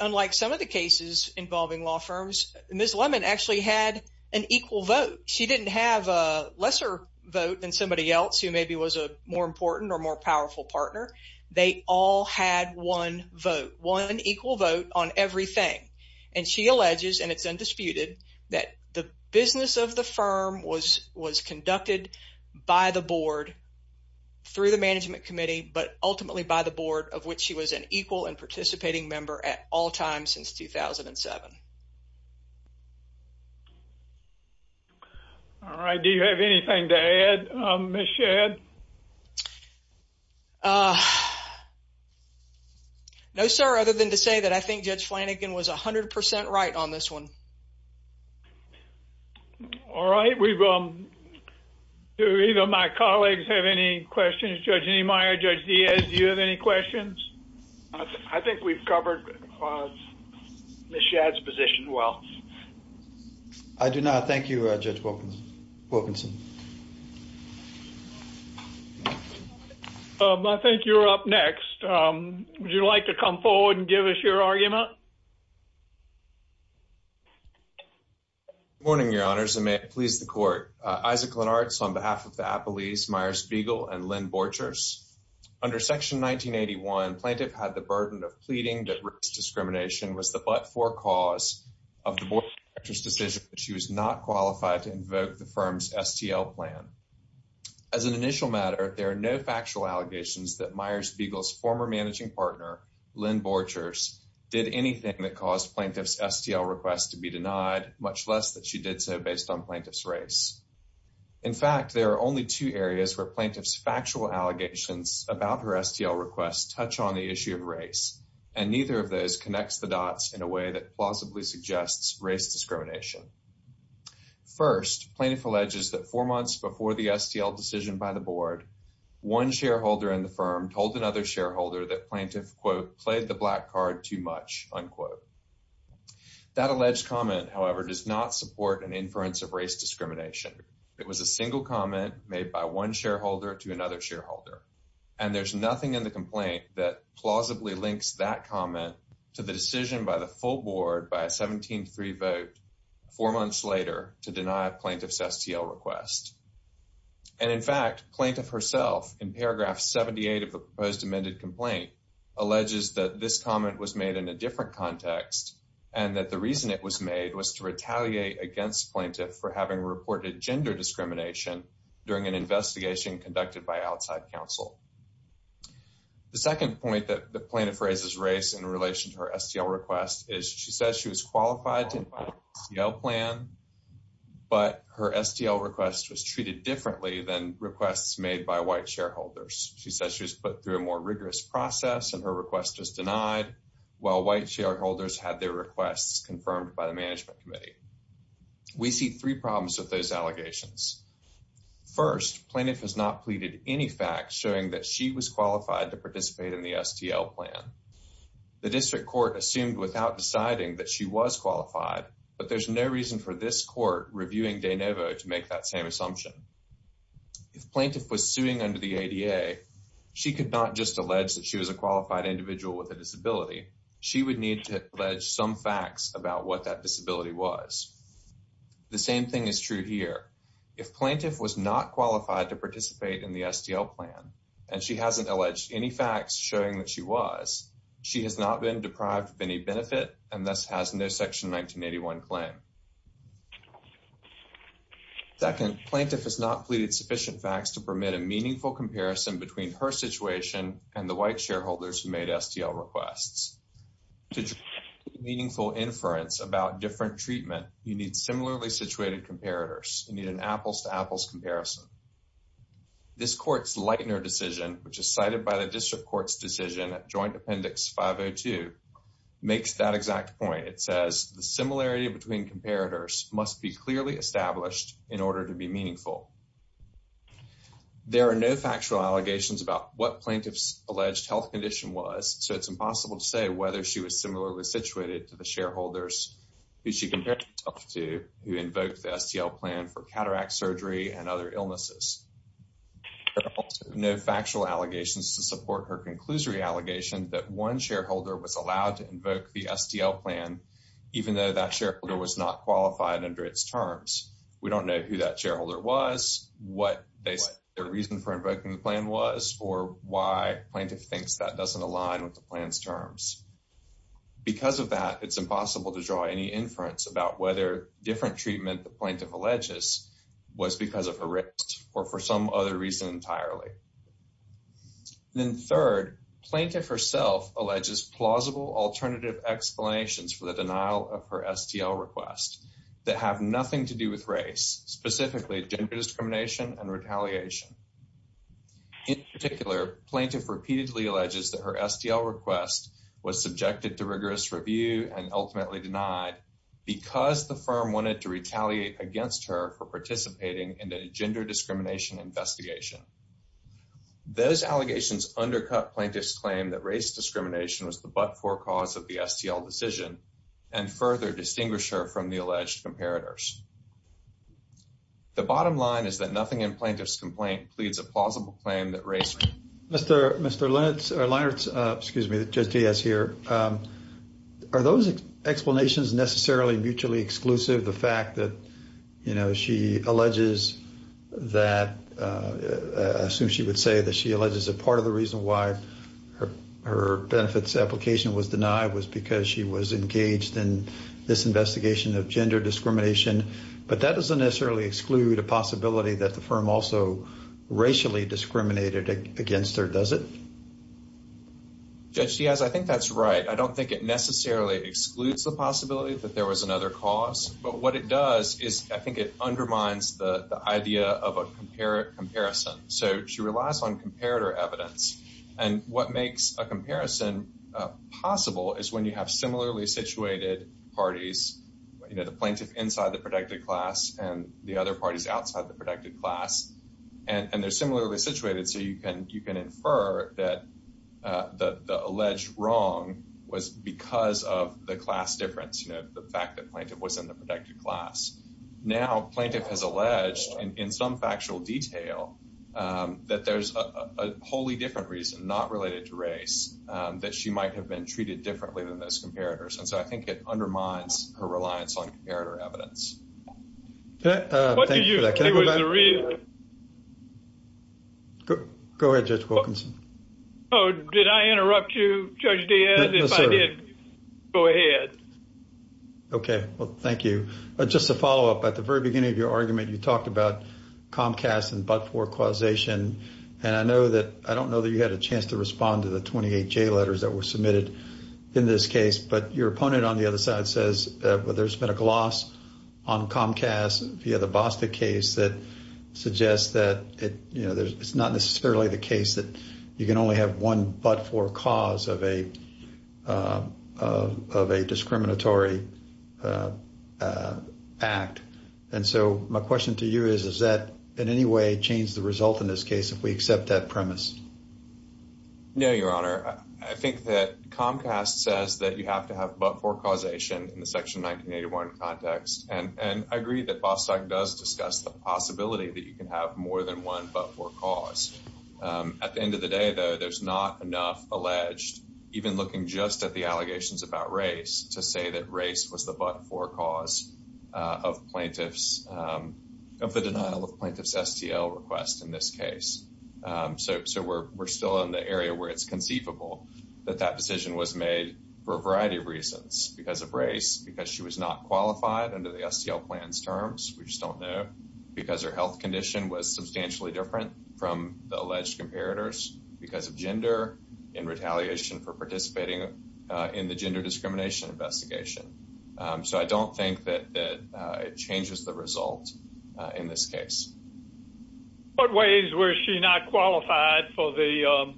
unlike some of the cases involving law firms, Ms. Lemon actually had an equal vote. She didn't have a lesser vote than somebody else who maybe was a more important or more powerful partner. They all had one vote, one equal vote on everything. And she alleges, and it's undisputed, that the business of the firm was conducted by the board through the management committee but ultimately by the board of which she was an equal and participating member at all times since 2007. All right. Do you have anything to add, Ms. Shadd? No, sir, other than to say that I think Judge Flanagan was 100 percent right on this one. All right. We've – do either of my colleagues have any questions? Judge Niemeyer, Judge Diaz, do you have any questions? I think we've covered Ms. Shadd's position well. I do not. Thank you, Judge Wilkinson. I think you're up next. Would you like to come forward and give us your argument? Good morning, Your Honors, and may it please the Court. Isaac Lenartz on behalf of the Appellees Myers-Beagle and Lynn Borchers. Under Section 1981, plaintiff had the burden of pleading that race discrimination was the forecause of the board's decision that she was not qualified to invoke the firm's STL plan. As an initial matter, there are no factual allegations that Myers-Beagle's former managing partner, Lynn Borchers, did anything that caused plaintiff's STL request to be denied, much less that she did so based on plaintiff's race. In fact, there are only two areas where plaintiff's factual allegations and neither of those connects the dots in a way that plausibly suggests race discrimination. First, plaintiff alleges that four months before the STL decision by the board, one shareholder in the firm told another shareholder that plaintiff, quote, played the black card too much, unquote. That alleged comment, however, does not support an inference of race discrimination. It was a single comment made by one shareholder to another shareholder, and there's nothing in the complaint that plausibly links that comment to the decision by the full board by a 17-3 vote four months later to deny plaintiff's STL request. And in fact, plaintiff herself, in paragraph 78 of the proposed amended complaint, alleges that this comment was made in a different context and that the reason it was made was to retaliate against plaintiff for having reported gender discrimination during an investigation conducted by outside counsel. The second point that the plaintiff raises race in relation to her STL request is she says she was qualified to file an STL plan, but her STL request was treated differently than requests made by white shareholders. She says she was put through a more rigorous process and her request was denied, while white shareholders had their requests confirmed by the management committee. We see three problems with those allegations. First, plaintiff has not pleaded any facts showing that she was qualified to participate in the STL plan. The district court assumed without deciding that she was qualified, but there's no reason for this court reviewing De Novo to make that same assumption. If plaintiff was suing under the ADA, she could not just allege that she was a qualified individual with a disability. She would need to allege some facts about what that disability was. The same thing is true here. If plaintiff was not qualified to participate in the STL plan, and she hasn't alleged any facts showing that she was, she has not been deprived of any benefit, and thus has no Section 1981 claim. Second, plaintiff has not pleaded sufficient facts to permit a meaningful comparison between her situation and the white shareholders who made STL requests. To draw meaningful inference about different treatment, you need similarly situated comparators. You need an apples-to-apples comparison. This court's Leitner decision, which is cited by the district court's decision at joint appendix 502, makes that exact point. It says, the similarity between comparators must be clearly established in order to be meaningful. There are no factual allegations about what plaintiff's alleged health condition was, so it's impossible to say whether she was similarly situated to the shareholders who compared herself to who invoked the STL plan for cataract surgery and other illnesses. There are also no factual allegations to support her conclusory allegation that one shareholder was allowed to invoke the STL plan, even though that shareholder was not qualified under its terms. We don't know who that shareholder was, what their reason for invoking the plan was, or why plaintiff thinks that doesn't align with the plan's terms. Because of that, it's impossible to draw any inference about whether different treatment the plaintiff alleges was because of her race or for some other reason entirely. Then third, plaintiff herself alleges plausible alternative explanations for the denial of her STL request that have nothing to do with race, specifically gender discrimination and retaliation. In particular, plaintiff repeatedly alleges that her STL request was subjected to rigorous review and ultimately denied because the firm wanted to retaliate against her for participating in a gender discrimination investigation. Those allegations undercut plaintiff's claim that race discrimination was the but-for cause of the STL decision and further distinguish her from the alleged comparators. The bottom line is that nothing in plaintiff's complaint pleads a plausible claim that race was the cause of the STL decision. Mr. Linertz, excuse me, Judge Diaz here, are those explanations necessarily mutually exclusive? The fact that, you know, she alleges that, I assume she would say that she alleges that part of the reason why her benefits application was denied was because she was engaged in this investigation of gender discrimination. But that doesn't necessarily exclude a possibility that the firm also racially discriminated against her, does it? Judge Diaz, I think that's right. I don't think it necessarily excludes the possibility that there was another cause. But what it does is I think it undermines the idea of a comparison. So she relies on comparator evidence. And what makes a comparison possible is when you have similarly situated parties, you know, the plaintiff inside the protected class and the other parties outside the protected class, and they're similarly situated. So you can infer that the alleged wrong was because of the class difference, you know, the fact that plaintiff was in the protected class. Now, plaintiff has alleged in some factual detail that there's a wholly different reason, not related to race, that she might have been treated differently than those comparators. And so I think it undermines her reliance on comparator evidence. What do you think was the reason? Go ahead, Judge Wilkinson. Oh, did I interrupt you, Judge Diaz? If I did, go ahead. Okay, well, thank you. Just to follow up, at the very beginning of your argument, you talked about Comcast and but-for causation. And I know that, I don't know that you had a chance to respond to the 28 J letters that were submitted in this case. But your opponent on the other side says, well, there's been a gloss on Comcast via the Bostick case that suggests that, you know, it's not necessarily the case that you can only have one but-for cause of a discriminatory act. And so my question to you is, is that in any way change the result in this case if we accept that premise? No, Your Honor. I think that Comcast says that you have to have but-for causation in the Section 1981 context. And I agree that Bostick does discuss the possibility that you can have more than one but-for cause. At the end of the day, though, there's not enough alleged, even looking just at the allegations about race, to say that race was the but-for cause of the denial of plaintiff's STL request in this case. So we're still in the area where it's conceivable that that decision was made for a variety of reasons. Because of race, because she was not qualified under the STL plans terms, we just don't because her health condition was substantially different from the alleged comparators because of gender and retaliation for participating in the gender discrimination investigation. So I don't think that it changes the result in this case. What ways was she not qualified for the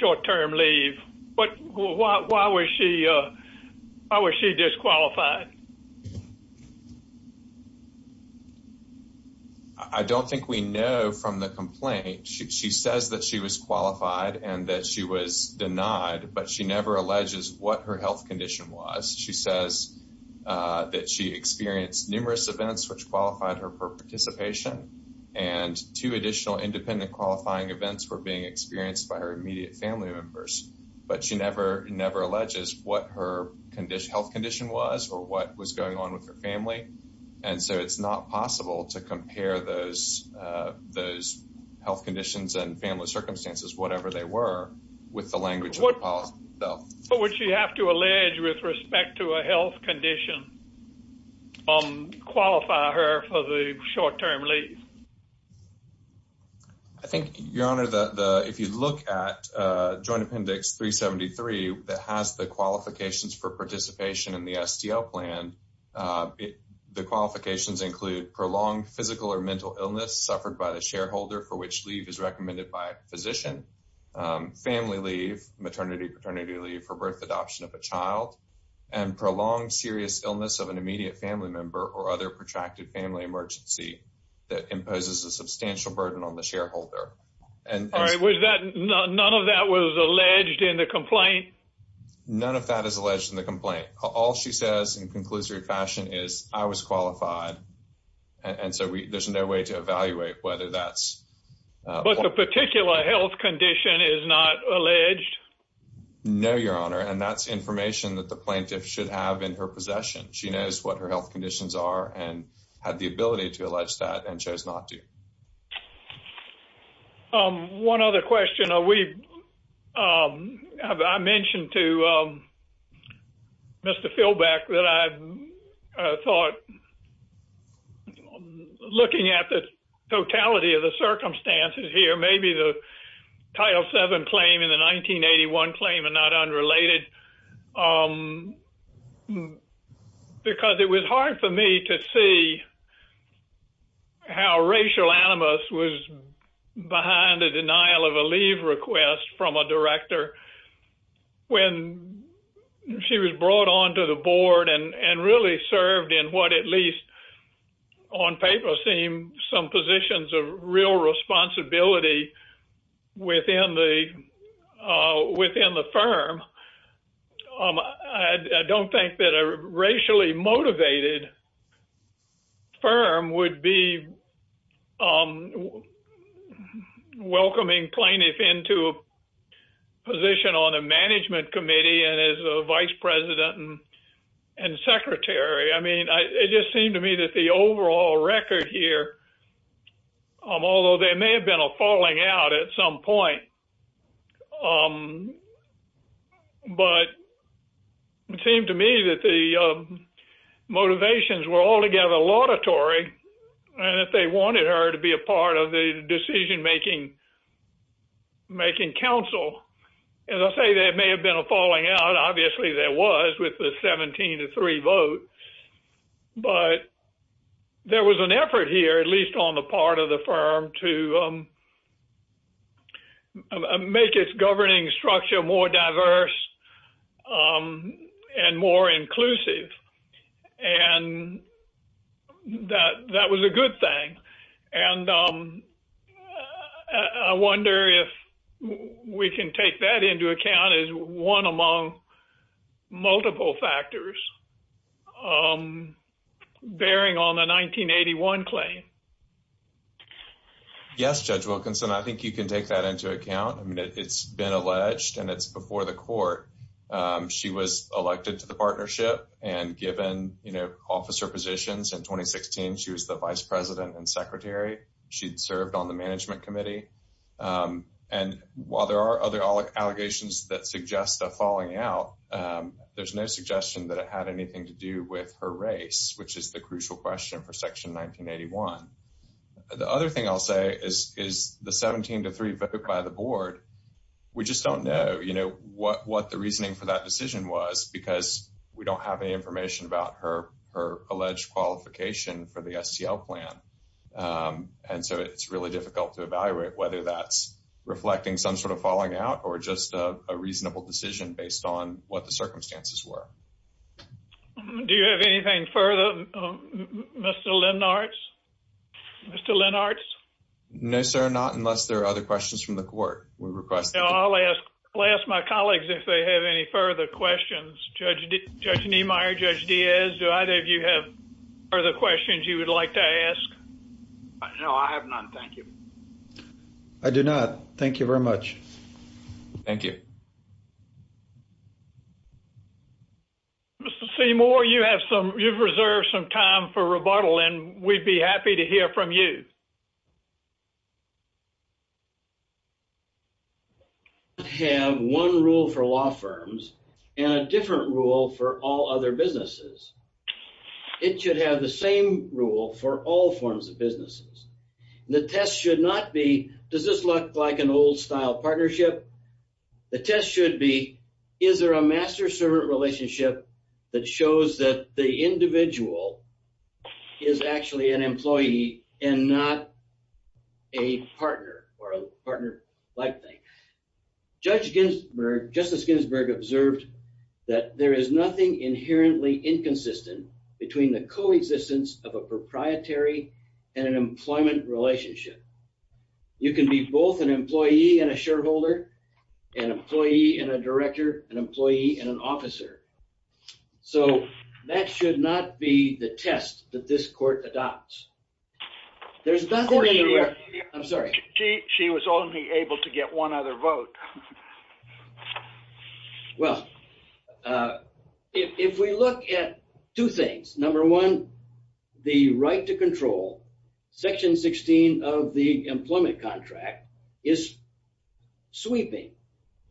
short-term leave? But why was she disqualified? I don't think we know from the complaint. She says that she was qualified and that she was denied, but she never alleges what her health condition was. She says that she experienced numerous events which qualified her for participation, and two additional independent qualifying events were being experienced by her immediate family members. But she never, never alleges what her health condition was or what was going on with her family. And so it's not possible to compare those health conditions and family circumstances, whatever they were, with the language of the policy itself. But would she have to allege with respect to a health condition, qualify her for the short-term leave? I think, Your Honor, if you look at Joint Appendix 373 that has the qualifications for the qualifications include prolonged physical or mental illness suffered by the shareholder for which leave is recommended by a physician, family leave, maternity, paternity leave for birth, adoption of a child, and prolonged serious illness of an immediate family member or other protracted family emergency that imposes a substantial burden on the shareholder. None of that was alleged in the complaint? None of that is alleged in the complaint. All she says in conclusory fashion is, I was qualified. And so there's no way to evaluate whether that's... But the particular health condition is not alleged? No, Your Honor. And that's information that the plaintiff should have in her possession. She knows what her health conditions are and had the ability to allege that and chose not to. One other question. I mentioned to Mr. Philbeck that I thought looking at the totality of the circumstances here, maybe the Title VII claim and the 1981 claim are not unrelated, because it was hard for me to see how racial animus was behind the denial of a leave request from a director when she was brought onto the board and really served in what at least on paper seemed some positions of real responsibility within the firm. I don't think that a racially motivated firm would be welcoming plaintiff into a position on a management committee and as a vice president and secretary. I mean, it just seemed to me that the overall record here, although there may have been a falling out at some point, but it seemed to me that the motivations were altogether laudatory and that they wanted her to be a part of the decision-making council. As I say, there may have been a falling out. Obviously, there was with the 17 to 3 vote. But there was an effort here, at least on the part of the firm, to make its governing structure more diverse and more inclusive. And that was a good thing. And I wonder if we can take that into account as one among multiple factors. I'm bearing on the 1981 claim. Yes, Judge Wilkinson, I think you can take that into account. I mean, it's been alleged and it's before the court. She was elected to the partnership and given, you know, officer positions in 2016. She was the vice president and secretary. She'd served on the management committee. And while there are other allegations that suggest a falling out, there's no suggestion that it had anything to do with her race, which is the crucial question for Section 1981. The other thing I'll say is the 17 to 3 vote by the board. We just don't know, you know, what the reasoning for that decision was because we don't have any information about her alleged qualification for the STL plan. And so it's really difficult to evaluate whether that's reflecting some sort of falling out or just a reasonable decision based on what the circumstances were. Do you have anything further, Mr. Lennartz? Mr. Lennartz? No, sir, not unless there are other questions from the court. We request that. I'll ask my colleagues if they have any further questions. Judge Niemeyer, Judge Diaz, do either of you have further questions you would like to ask? No, I have none. Thank you. I do not. Thank you very much. Thank you. Mr. Seymour, you have some, you've reserved some time for rebuttal, and we'd be happy to hear from you. Have one rule for law firms and a different rule for all other businesses. It should have the same rule for all forms of businesses. The test should not be, does this look like an old style partnership? The test should be, is there a master-servant relationship that shows that the individual is actually an employee and not a partner or a partner-like thing? Judge Ginsburg, Justice Ginsburg observed that there is nothing inherently inconsistent between the coexistence of a proprietary and an employment relationship. You can be both an employee and a shareholder, an employee and a director, an employee and an officer. So that should not be the test that this court adopts. There's nothing... I'm sorry. She was only able to get one other vote. Well, if we look at two things, number one, the right to control, section 16 of the employment contract is sweeping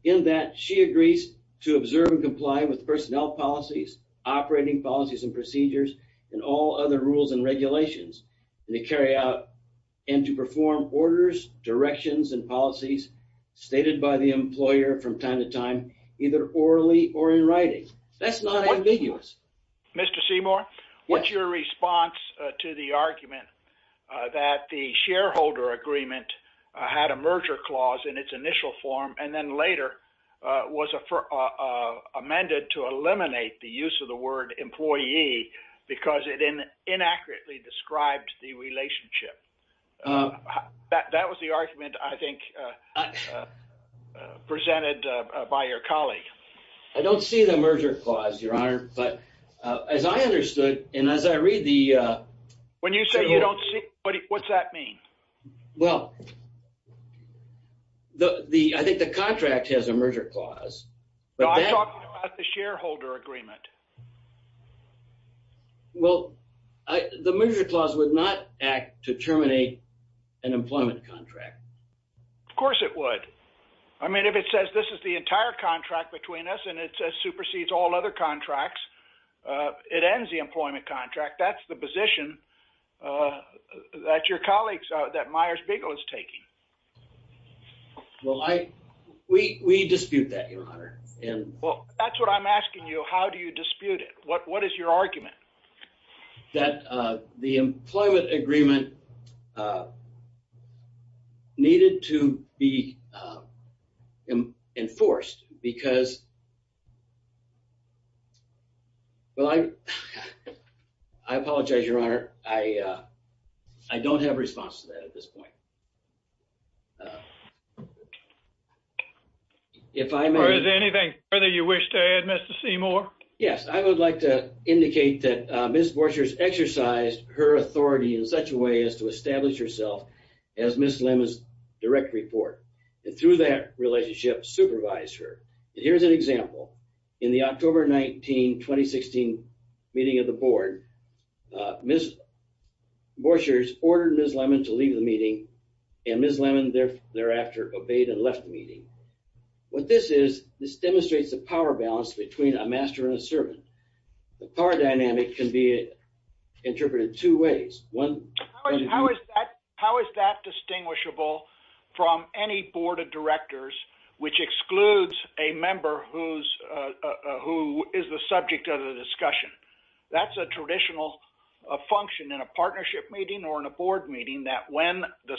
in that she agrees to observe and comply with personnel policies, operating policies and procedures, and all other rules and regulations, and to carry out and to perform orders, directions, and policies stated by the employer from time to time, either orally or in writing. That's not ambiguous. Mr. Seymour, what's your response to the argument that the shareholder agreement had a merger clause in its initial form and then later was amended to eliminate the use of the word employee because it inaccurately described the relationship? That was the argument, I think, presented by your colleague. I don't see the merger clause, Your Honor. But as I understood, and as I read the... When you say you don't see, what's that mean? Well, I think the contract has a merger clause. I'm talking about the shareholder agreement. Well, the merger clause would not act to terminate an employment contract. Of course it would. I mean, if it says this is the entire contract between us and it supersedes all other contracts, it ends the employment contract. That's the position that your colleague, that Myers-Bigel, is taking. Well, we dispute that, Your Honor. Well, that's what I'm asking you. How do you dispute it? What is your argument? That the employment agreement needed to be enforced because... Well, I apologize, Your Honor. I don't have a response to that at this point. If I may... Or is there anything further you wish to add, Mr. Seymour? Yes. I would like to indicate that Ms. Borchers exercised her authority in such a way as to establish herself as Ms. Lemon's direct report, and through that relationship, supervise her. Here's an example. In the October 19, 2016 meeting of the board, Ms. Borchers ordered Ms. Lemon to leave the meeting, what this is, this demonstrates the power balance between a master and a servant. The power dynamic can be interpreted two ways. How is that distinguishable from any board of directors which excludes a member who is the subject of the discussion? That's a traditional function in a partnership meeting or in a board meeting that when the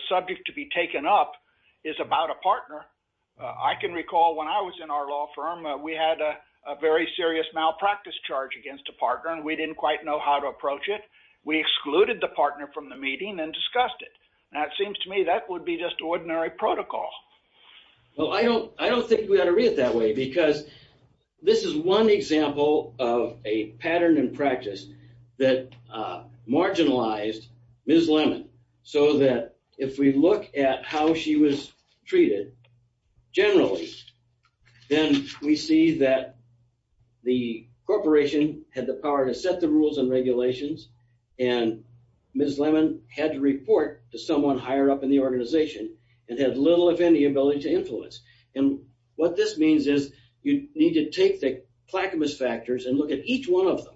I can recall when I was in our law firm, we had a very serious malpractice charge against a partner and we didn't quite know how to approach it. We excluded the partner from the meeting and discussed it. Now, it seems to me that would be just ordinary protocol. Well, I don't think we ought to read it that way because this is one example of a pattern in practice that marginalized Ms. Lemon so that if we look at how she was treated generally, then we see that the corporation had the power to set the rules and regulations and Ms. Lemon had to report to someone higher up in the organization and had little if any ability to influence and what this means is you need to take the placibus factors and look at each one of them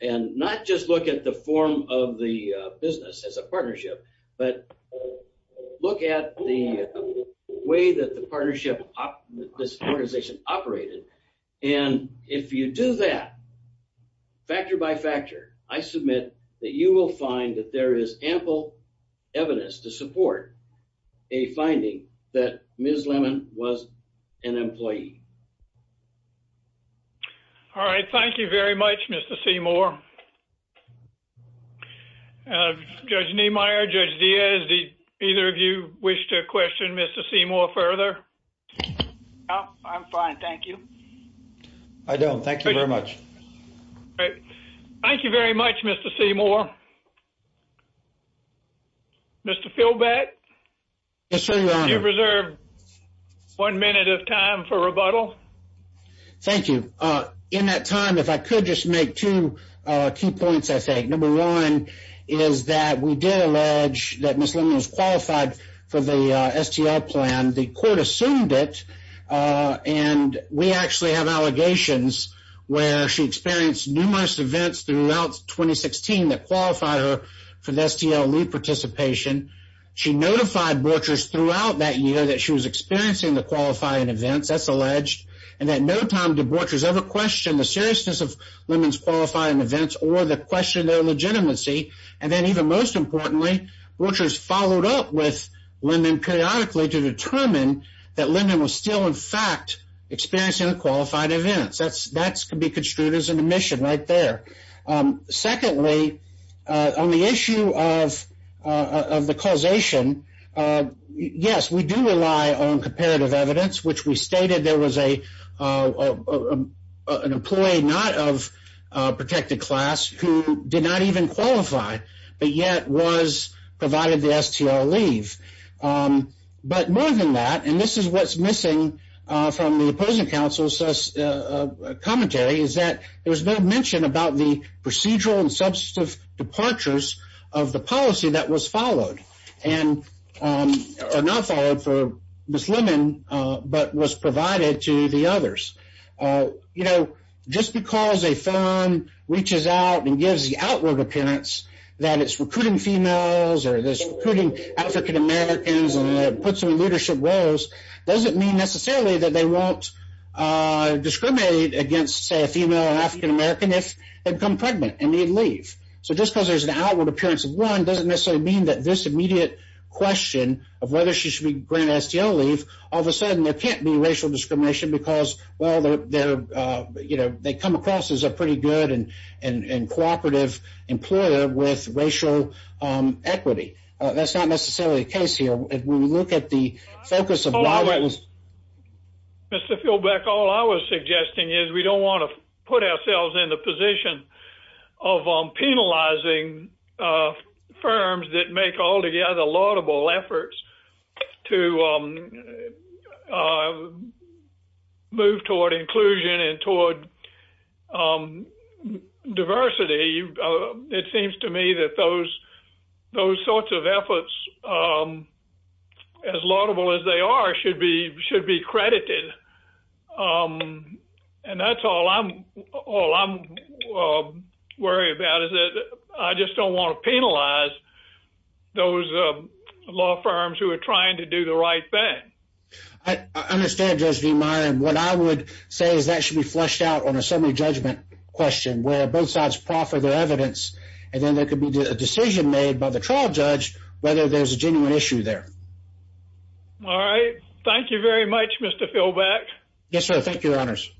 and not just look at the form of the business as a partnership, but look at the way that the partnership, this organization operated and if you do that, factor by factor, I submit that you will find that there is ample evidence to support a finding that Ms. Lemon was an employee. All right. Thank you very much, Mr. Seymour. Judge Niemeyer, Judge Diaz, either of you wish to question Mr. Seymour further? No, I'm fine. Thank you. I don't. Thank you very much. All right. Thank you very much, Mr. Seymour. Mr. Philbeth? Yes, sir. Do you reserve one minute of time for rebuttal? Thank you. In that time, if I could just make two key points, I think. Number one is that we did allege that Ms. Lemon was qualified for the STL plan. The court assumed it and we actually have allegations where she experienced numerous events throughout 2016 that qualified her for the STL lead participation. She notified Borchers throughout that year that she was experiencing the qualifying events, that's alleged, and that no time did Borchers ever question the seriousness of Lemon's qualifying events or the question of their legitimacy. And then, even most importantly, Borchers followed up with Lemon periodically to determine that Lemon was still, in fact, experiencing the qualified events. That can be construed as an admission right there. Secondly, on the issue of the causation, yes, we do rely on comparative evidence, which we stated there was an employee not of protected class who did not even qualify, but yet was provided the STL leave. But more than that, and this is what's missing from the opposing counsel's commentary, is that there was no mention about the procedural and substantive departures of the policy that was followed, or not followed for Ms. Lemon, but was provided to the others. You know, just because a firm reaches out and gives the outward appearance that it's recruiting females or it's recruiting African Americans and puts them in leadership roles doesn't mean that they won't discriminate against, say, a female or African American if they become pregnant and need leave. So, just because there's an outward appearance of one doesn't necessarily mean that this immediate question of whether she should be granted STL leave, all of a sudden there can't be racial discrimination because, well, they come across as a pretty good and cooperative employer with racial equity. That's not necessarily the case here. If we look at the focus of why that was... Mr. Philbeck, all I was suggesting is we don't want to put ourselves in the position of penalizing firms that make altogether laudable efforts to move toward inclusion and toward diversity. It seems to me that those sorts of efforts, as laudable as they are, should be credited. And that's all I'm worried about, is that I just don't want to penalize those law firms who are trying to do the right thing. I understand, Judge V. Meyer. And what I would say is that should be fleshed out on a summary judgment question, where both sides proffer their evidence, and then there could be a decision made by the trial judge whether there's a genuine issue there. All right. Thank you very much, Mr. Philbeck. Thank you, Your Honors.